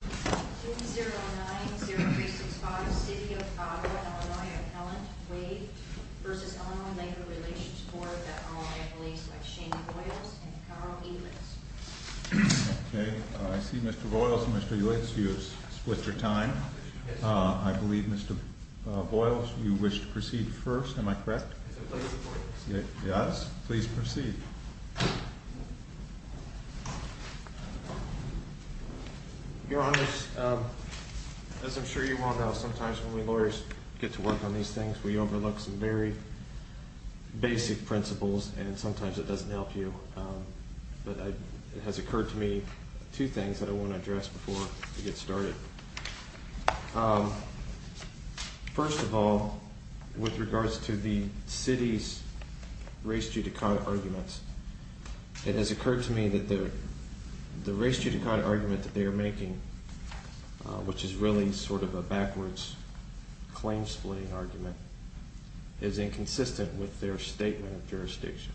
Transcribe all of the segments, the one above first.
2090365 City of Ottawa, Illinois Appellant Wade v. Illinois Labor Relations Board at all employees like Shane Boyles and Carl Edlunds. Okay, I see Mr. Boyles and Mr. Edlunds, you have split your time. I believe Mr. Boyles, you wish to proceed first, am I correct? Yes, please proceed. Your Honors, as I'm sure you all know, sometimes when we lawyers get to work on these things, we overlook some very basic principles and sometimes it doesn't help you. But it has occurred to me two things that I want to address before we get started. First of all, with regards to the city's race judicata arguments, it has occurred to me that the race judicata argument that they are making, which is really sort of a backwards claim splitting argument, is inconsistent with their statement of jurisdiction.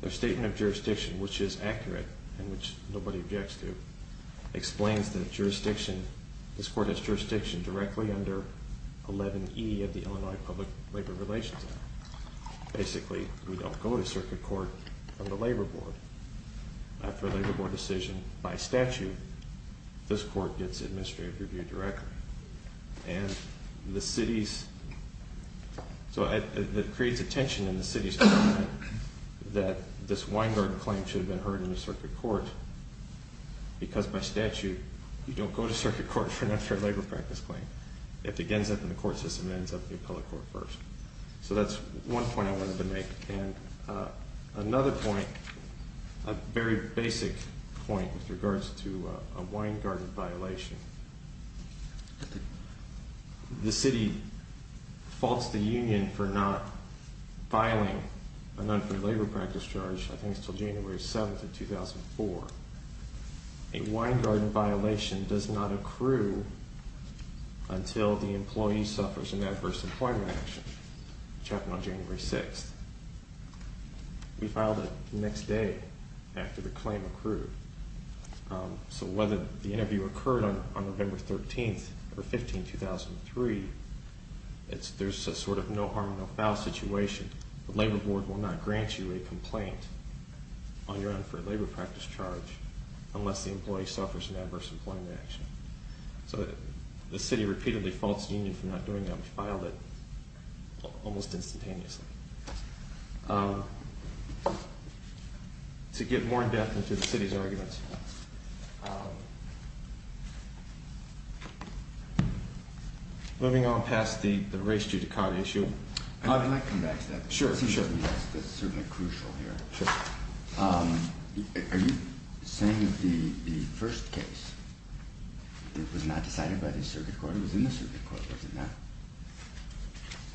Their statement of jurisdiction, which is accurate and which nobody objects to, explains that this court has jurisdiction directly under 11E of the Illinois Public Labor Relations Act. Basically, we don't go to circuit court from the labor board. After a labor board decision, by statute, this court gets administrative review directly. And the city's... So it creates a tension in the city's mind that this Weingarten claim should have been heard in the circuit court because by statute, you don't go to circuit court for an unfair labor practice claim. It begins up in the court system and ends up in the appellate court first. So that's one point I wanted to make. And another point, a very basic point with regards to a Weingarten violation. The city faults the union for not filing an unfair labor practice charge, I think, until January 7th of 2004. A Weingarten violation does not accrue until the employee suffers an adverse employment action, which happened on January 6th. We filed it the next day after the claim accrued. So whether the interview occurred on November 13th or 15th, 2003, there's a sort of no harm, no foul situation. The labor board will not grant you a complaint on your unfair labor practice charge unless the employee suffers an adverse employment action. So the city repeatedly faults the union for not doing that. We filed it almost instantaneously. To get more in-depth into the city's arguments... Moving on past the race judicata issue... I'd like to come back to that. Sure, sure. It's certainly crucial here. Are you saying that the first case was not decided by the circuit court? It was in the circuit court, was it not?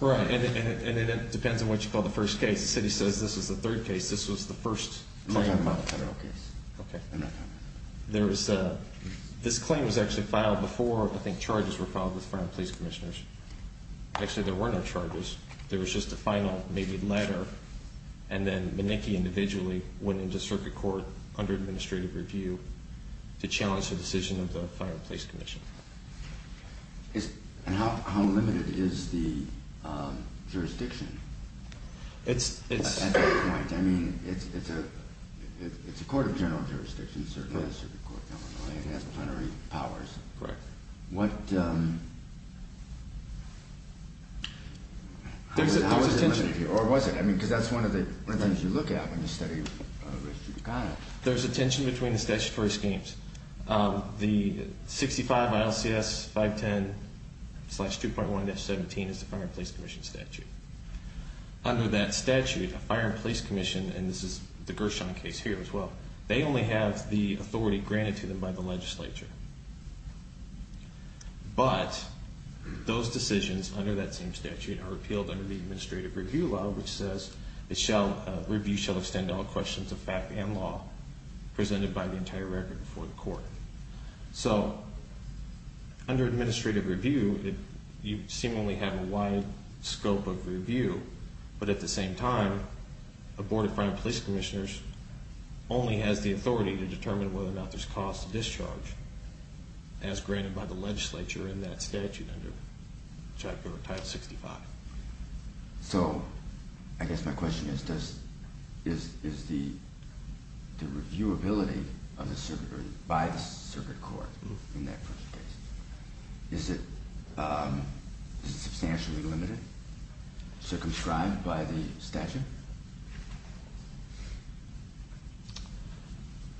Right, and it depends on what you call the first case. The city says this is the third case. This was the first... I'm not talking about the federal case. Okay. I'm not talking about that. This claim was actually filed before, I think, charges were filed with the federal police commissioners. Actually, there were no charges. There was just a final, maybe, letter, and then Manicki individually went into circuit court under administrative review to challenge the decision of the federal police commission. And how limited is the jurisdiction? At that point, I mean, it's a court of general jurisdiction. It certainly is a circuit court. It has plenary powers. Correct. But what... How is it limited here? Or was it? I mean, because that's one of the things you look at when you study race judicata. There's a tension between the statutory schemes. The 65 ILCS 510-2.1-17 is the fire and police commission statute. Under that statute, a fire and police commission, and this is the Gershon case here as well, they only have the authority granted to them by the legislature. But those decisions under that same statute are repealed under the administrative review law, which says, Review shall extend all questions of fact and law presented by the entire record before the court. So, under administrative review, you seemingly have a wide scope of review. But at the same time, a board of fire and police commissioners only has the authority to determine whether or not there's cause to discharge. As granted by the legislature in that statute under Title 65. So, I guess my question is, is the reviewability of the circuit by the circuit court in that particular case, is it substantially limited, circumscribed by the statute?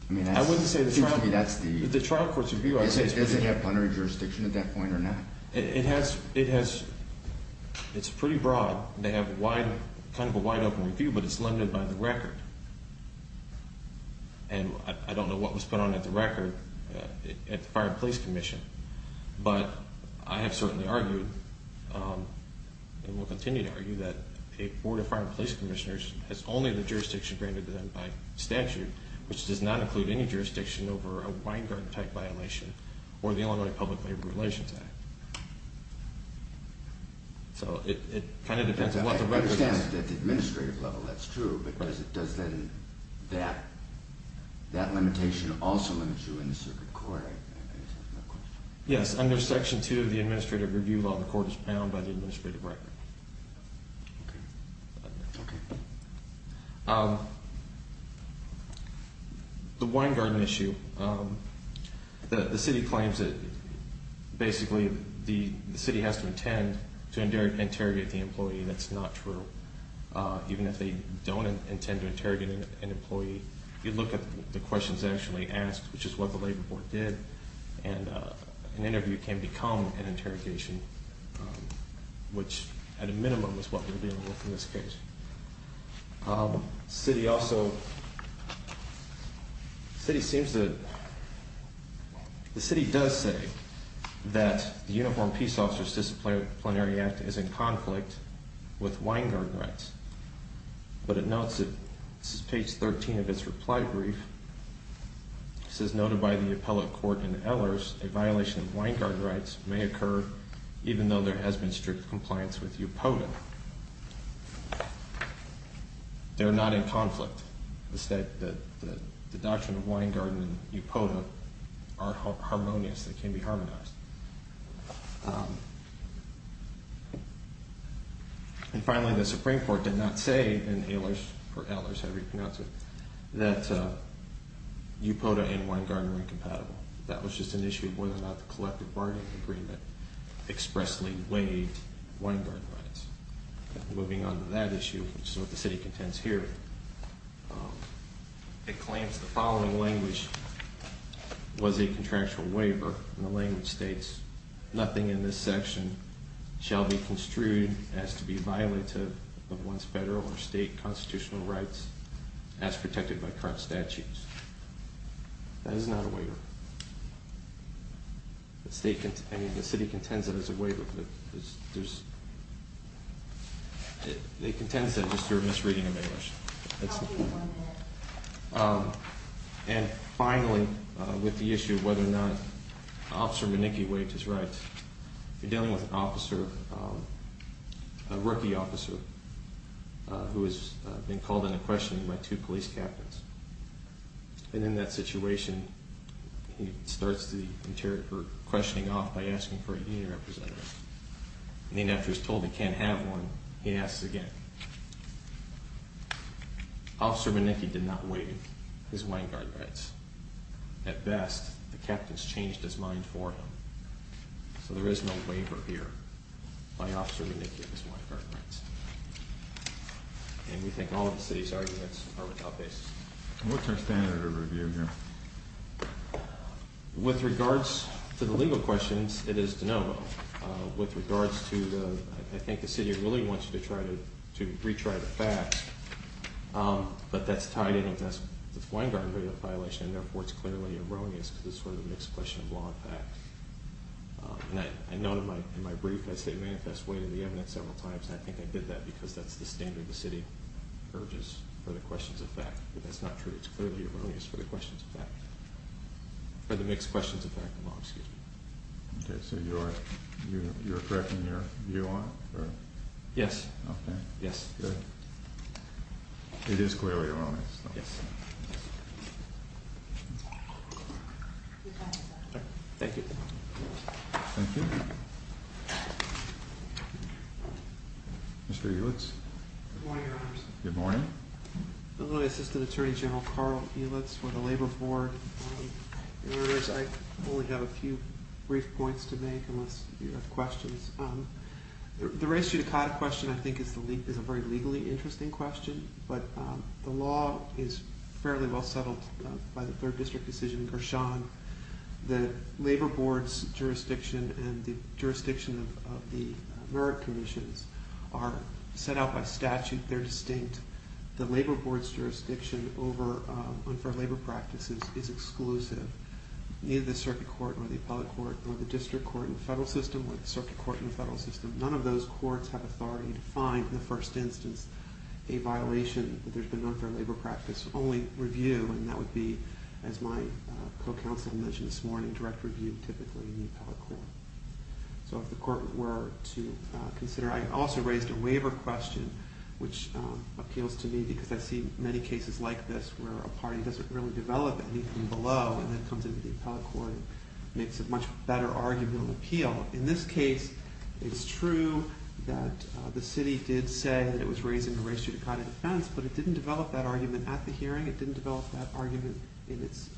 I mean, I wouldn't say that's the trial court's review. It doesn't have plenary jurisdiction at that point or not. It has, it's pretty broad. They have a wide, kind of a wide open review, but it's limited by the record. And I don't know what was put on at the record at the fire and police commission. But I have certainly argued, and will continue to argue, that a board of fire and police commissioners has only the jurisdiction granted to them by statute, which does not include any jurisdiction over a Weingarten-type violation or the Illinois Public Labor Relations Act. So, it kind of depends on what the record says. At the administrative level, that's true. But does then that limitation also limit you in the circuit court? Yes, under Section 2 of the Administrative Review Law, the court is bound by the administrative record. The Weingarten issue, the city claims that basically the city has to intend to interrogate the employee. That's not true. Even if they don't intend to interrogate an employee, you look at the questions actually asked, which is what the labor board did, and an interview can become an interrogation, which, at a minimum, is what we're dealing with in this case. The city does say that the Uniformed Peace Officers Disciplinary Act is in conflict with Weingarten rights. But it notes, this is page 13 of its reply brief, it says, As noted by the appellate court in Ehlers, a violation of Weingarten rights may occur even though there has been strict compliance with UPOTA. They're not in conflict. The doctrine of Weingarten and UPOTA are harmonious. They can be harmonized. And finally, the Supreme Court did not say in Ehlers, or Ehlers, however you pronounce it, that UPOTA and Weingarten are incompatible. That was just an issue of whether or not the collective bargaining agreement expressly waived Weingarten rights. Moving on to that issue, which is what the city contends here, it claims the following language was a contractual waiver, and the language states, Nothing in this section shall be construed as to be violative of one's federal or state constitutional rights as protected by current statutes. I mean, the city contends that it's a waiver. It contends that just through a misreading of English. And finally, with the issue of whether or not Officer Manicki waived his rights, you're dealing with an officer, a rookie officer, who has been called into question by two police captains. And in that situation, he starts the interrogator questioning off by asking for a union representative. And then after he's told he can't have one, he asks again. Officer Manicki did not waive his Weingarten rights. At best, the captains changed his mind for him. So there is no waiver here by Officer Manicki of his Weingarten rights. And we think all of the city's arguments are without basis. What's our standard of review here? With regards to the legal questions, it is de novo. With regards to the, I think the city really wants you to retry the facts, but that's tied in with the Weingarten violation, and therefore it's clearly erroneous because it's sort of a mixed question of law and fact. And I note in my brief, I say manifest weight in the evidence several times, and I think I did that because that's the standard the city urges for the questions of fact. If that's not true, it's clearly erroneous for the questions of fact. For the mixed questions of fact and law, excuse me. Okay, so you're correcting your view on it? Yes. Okay. Yes. Good. It is clearly erroneous. Yes. Thank you. Thank you. Mr. Eulitz. Good morning, Your Honors. Good morning. I'm going to assist Attorney General Carl Eulitz for the Labor Board. In other words, I only have a few brief points to make unless you have questions. The race judicata question, I think, is a very legally interesting question, but the law is fairly well settled by the third district decision in Gershon. The Labor Board's jurisdiction and the jurisdiction of the merit commissions are set out by statute. They're distinct. The Labor Board's jurisdiction over unfair labor practices is exclusive. Neither the circuit court or the appellate court or the district court in the federal system or the circuit court in the federal system, none of those courts have authority to find, in the first instance, a violation that there's been an unfair labor practice only review, and that would be, as my co-counsel mentioned this morning, direct review typically in the appellate court. So if the court were to consider, I also raised a waiver question, which appeals to me because I see many cases like this where a party doesn't really develop anything below and then comes into the appellate court and makes a much better argument of appeal. In this case, it's true that the city did say that it was raising a res judicata defense, but it didn't develop that argument at the hearing. It didn't develop that argument in its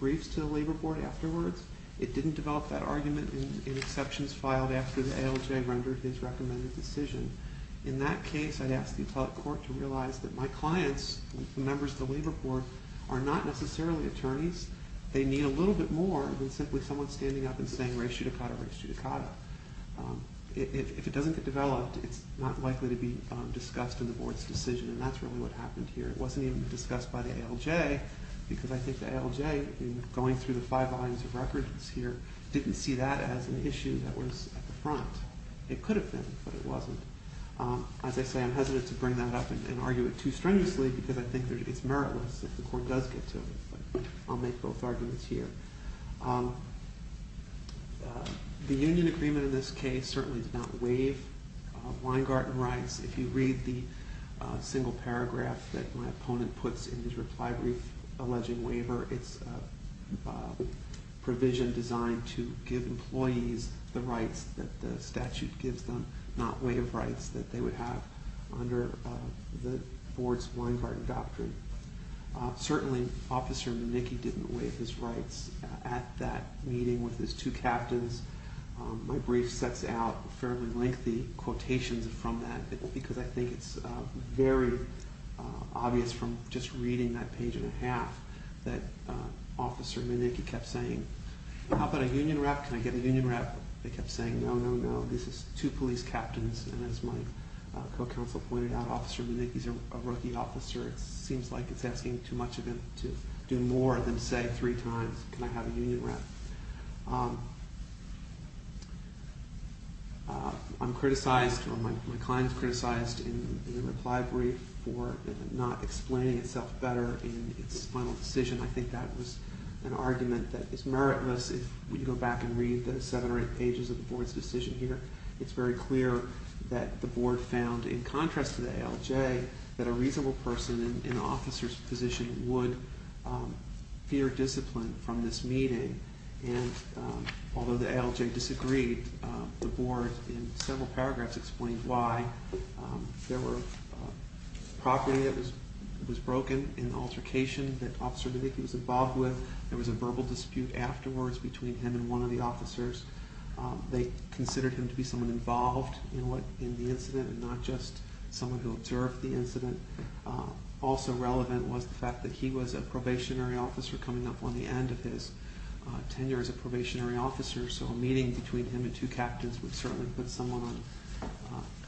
briefs to the Labor Board afterwards. It didn't develop that argument in exceptions filed after the ALJ rendered his recommended decision. In that case, I'd ask the appellate court to realize that my clients, members of the Labor Board, are not necessarily attorneys. They need a little bit more than simply someone standing up and saying res judicata, res judicata. If it doesn't get developed, it's not likely to be discussed in the board's decision, and that's really what happened here. It wasn't even discussed by the ALJ because I think the ALJ, in going through the five volumes of records here, didn't see that as an issue that was at the front. It could have been, but it wasn't. As I say, I'm hesitant to bring that up and argue it too strenuously because I think it's meritless if the court does get to it, but I'll make both arguments here. The union agreement in this case certainly did not waive Weingarten rights. If you read the single paragraph that my opponent puts in his reply brief alleging waiver, it's a provision designed to give employees the rights that the statute gives them, not waive rights that they would have under the board's Weingarten doctrine. Certainly, Officer Manicki didn't waive his rights at that meeting with his two captains. My brief sets out fairly lengthy quotations from that because I think it's very obvious from just reading that page and a half that Officer Manicki kept saying, how about a union rep? Can I get a union rep? They kept saying, no, no, no, this is two police captains, and as my co-counsel pointed out, Officer Manicki's a rookie officer. It seems like it's asking too much of him to do more than say three times, can I have a union rep? I'm criticized or my client's criticized in the reply brief for not explaining itself better in its final decision. I think that was an argument that is meritless if we go back and read the seven or eight pages of the board's decision here. It's very clear that the board found, in contrast to the ALJ, that a reasonable person in an officer's position would fear discipline from this meeting, and although the ALJ disagreed, the board, in several paragraphs, explained why there were property that was broken in altercation that Officer Manicki was involved with. There was a verbal dispute afterwards between him and one of the officers. They considered him to be someone involved in the incident and not just someone who observed the incident. Also relevant was the fact that he was a probationary officer coming up on the end of his tenure as a probationary officer, so a meeting between him and two captains would certainly put someone on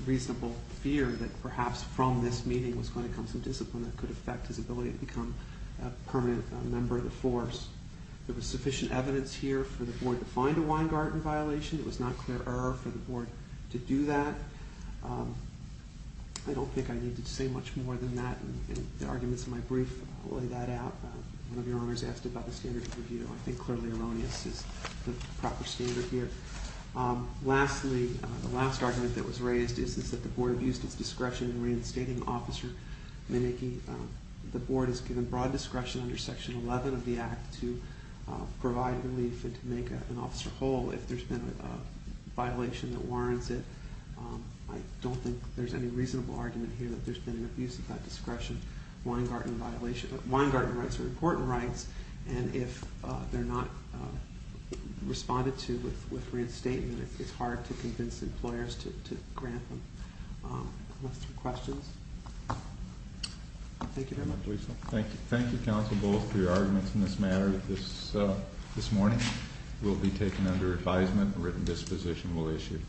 reasonable fear that perhaps from this meeting was going to come some discipline that could affect his ability to become a permanent member of the force. There was sufficient evidence here for the board to find a wine garden violation. It was not clear error for the board to do that. I don't think I needed to say much more than that in the arguments in my brief. I'll lay that out. One of your owners asked about the standard of review. I think clearly erroneous is the proper standard here. Lastly, the last argument that was raised is that the board abused its discretion in reinstating Officer Manicki. The board is given broad discretion under Section 11 of the Act to provide relief and to make an officer whole if there's been a violation that warrants it. I don't think there's any reasonable argument here that there's been an abuse of that discretion. Wine garden rights are important rights, and if they're not responded to with reinstatement, it's hard to convince employers to grant them. Unless there are questions. Thank you very much, Lisa. Thank you, Counsel Bulls, for your arguments in this matter. This morning will be taken under advisement. A written disposition will issue.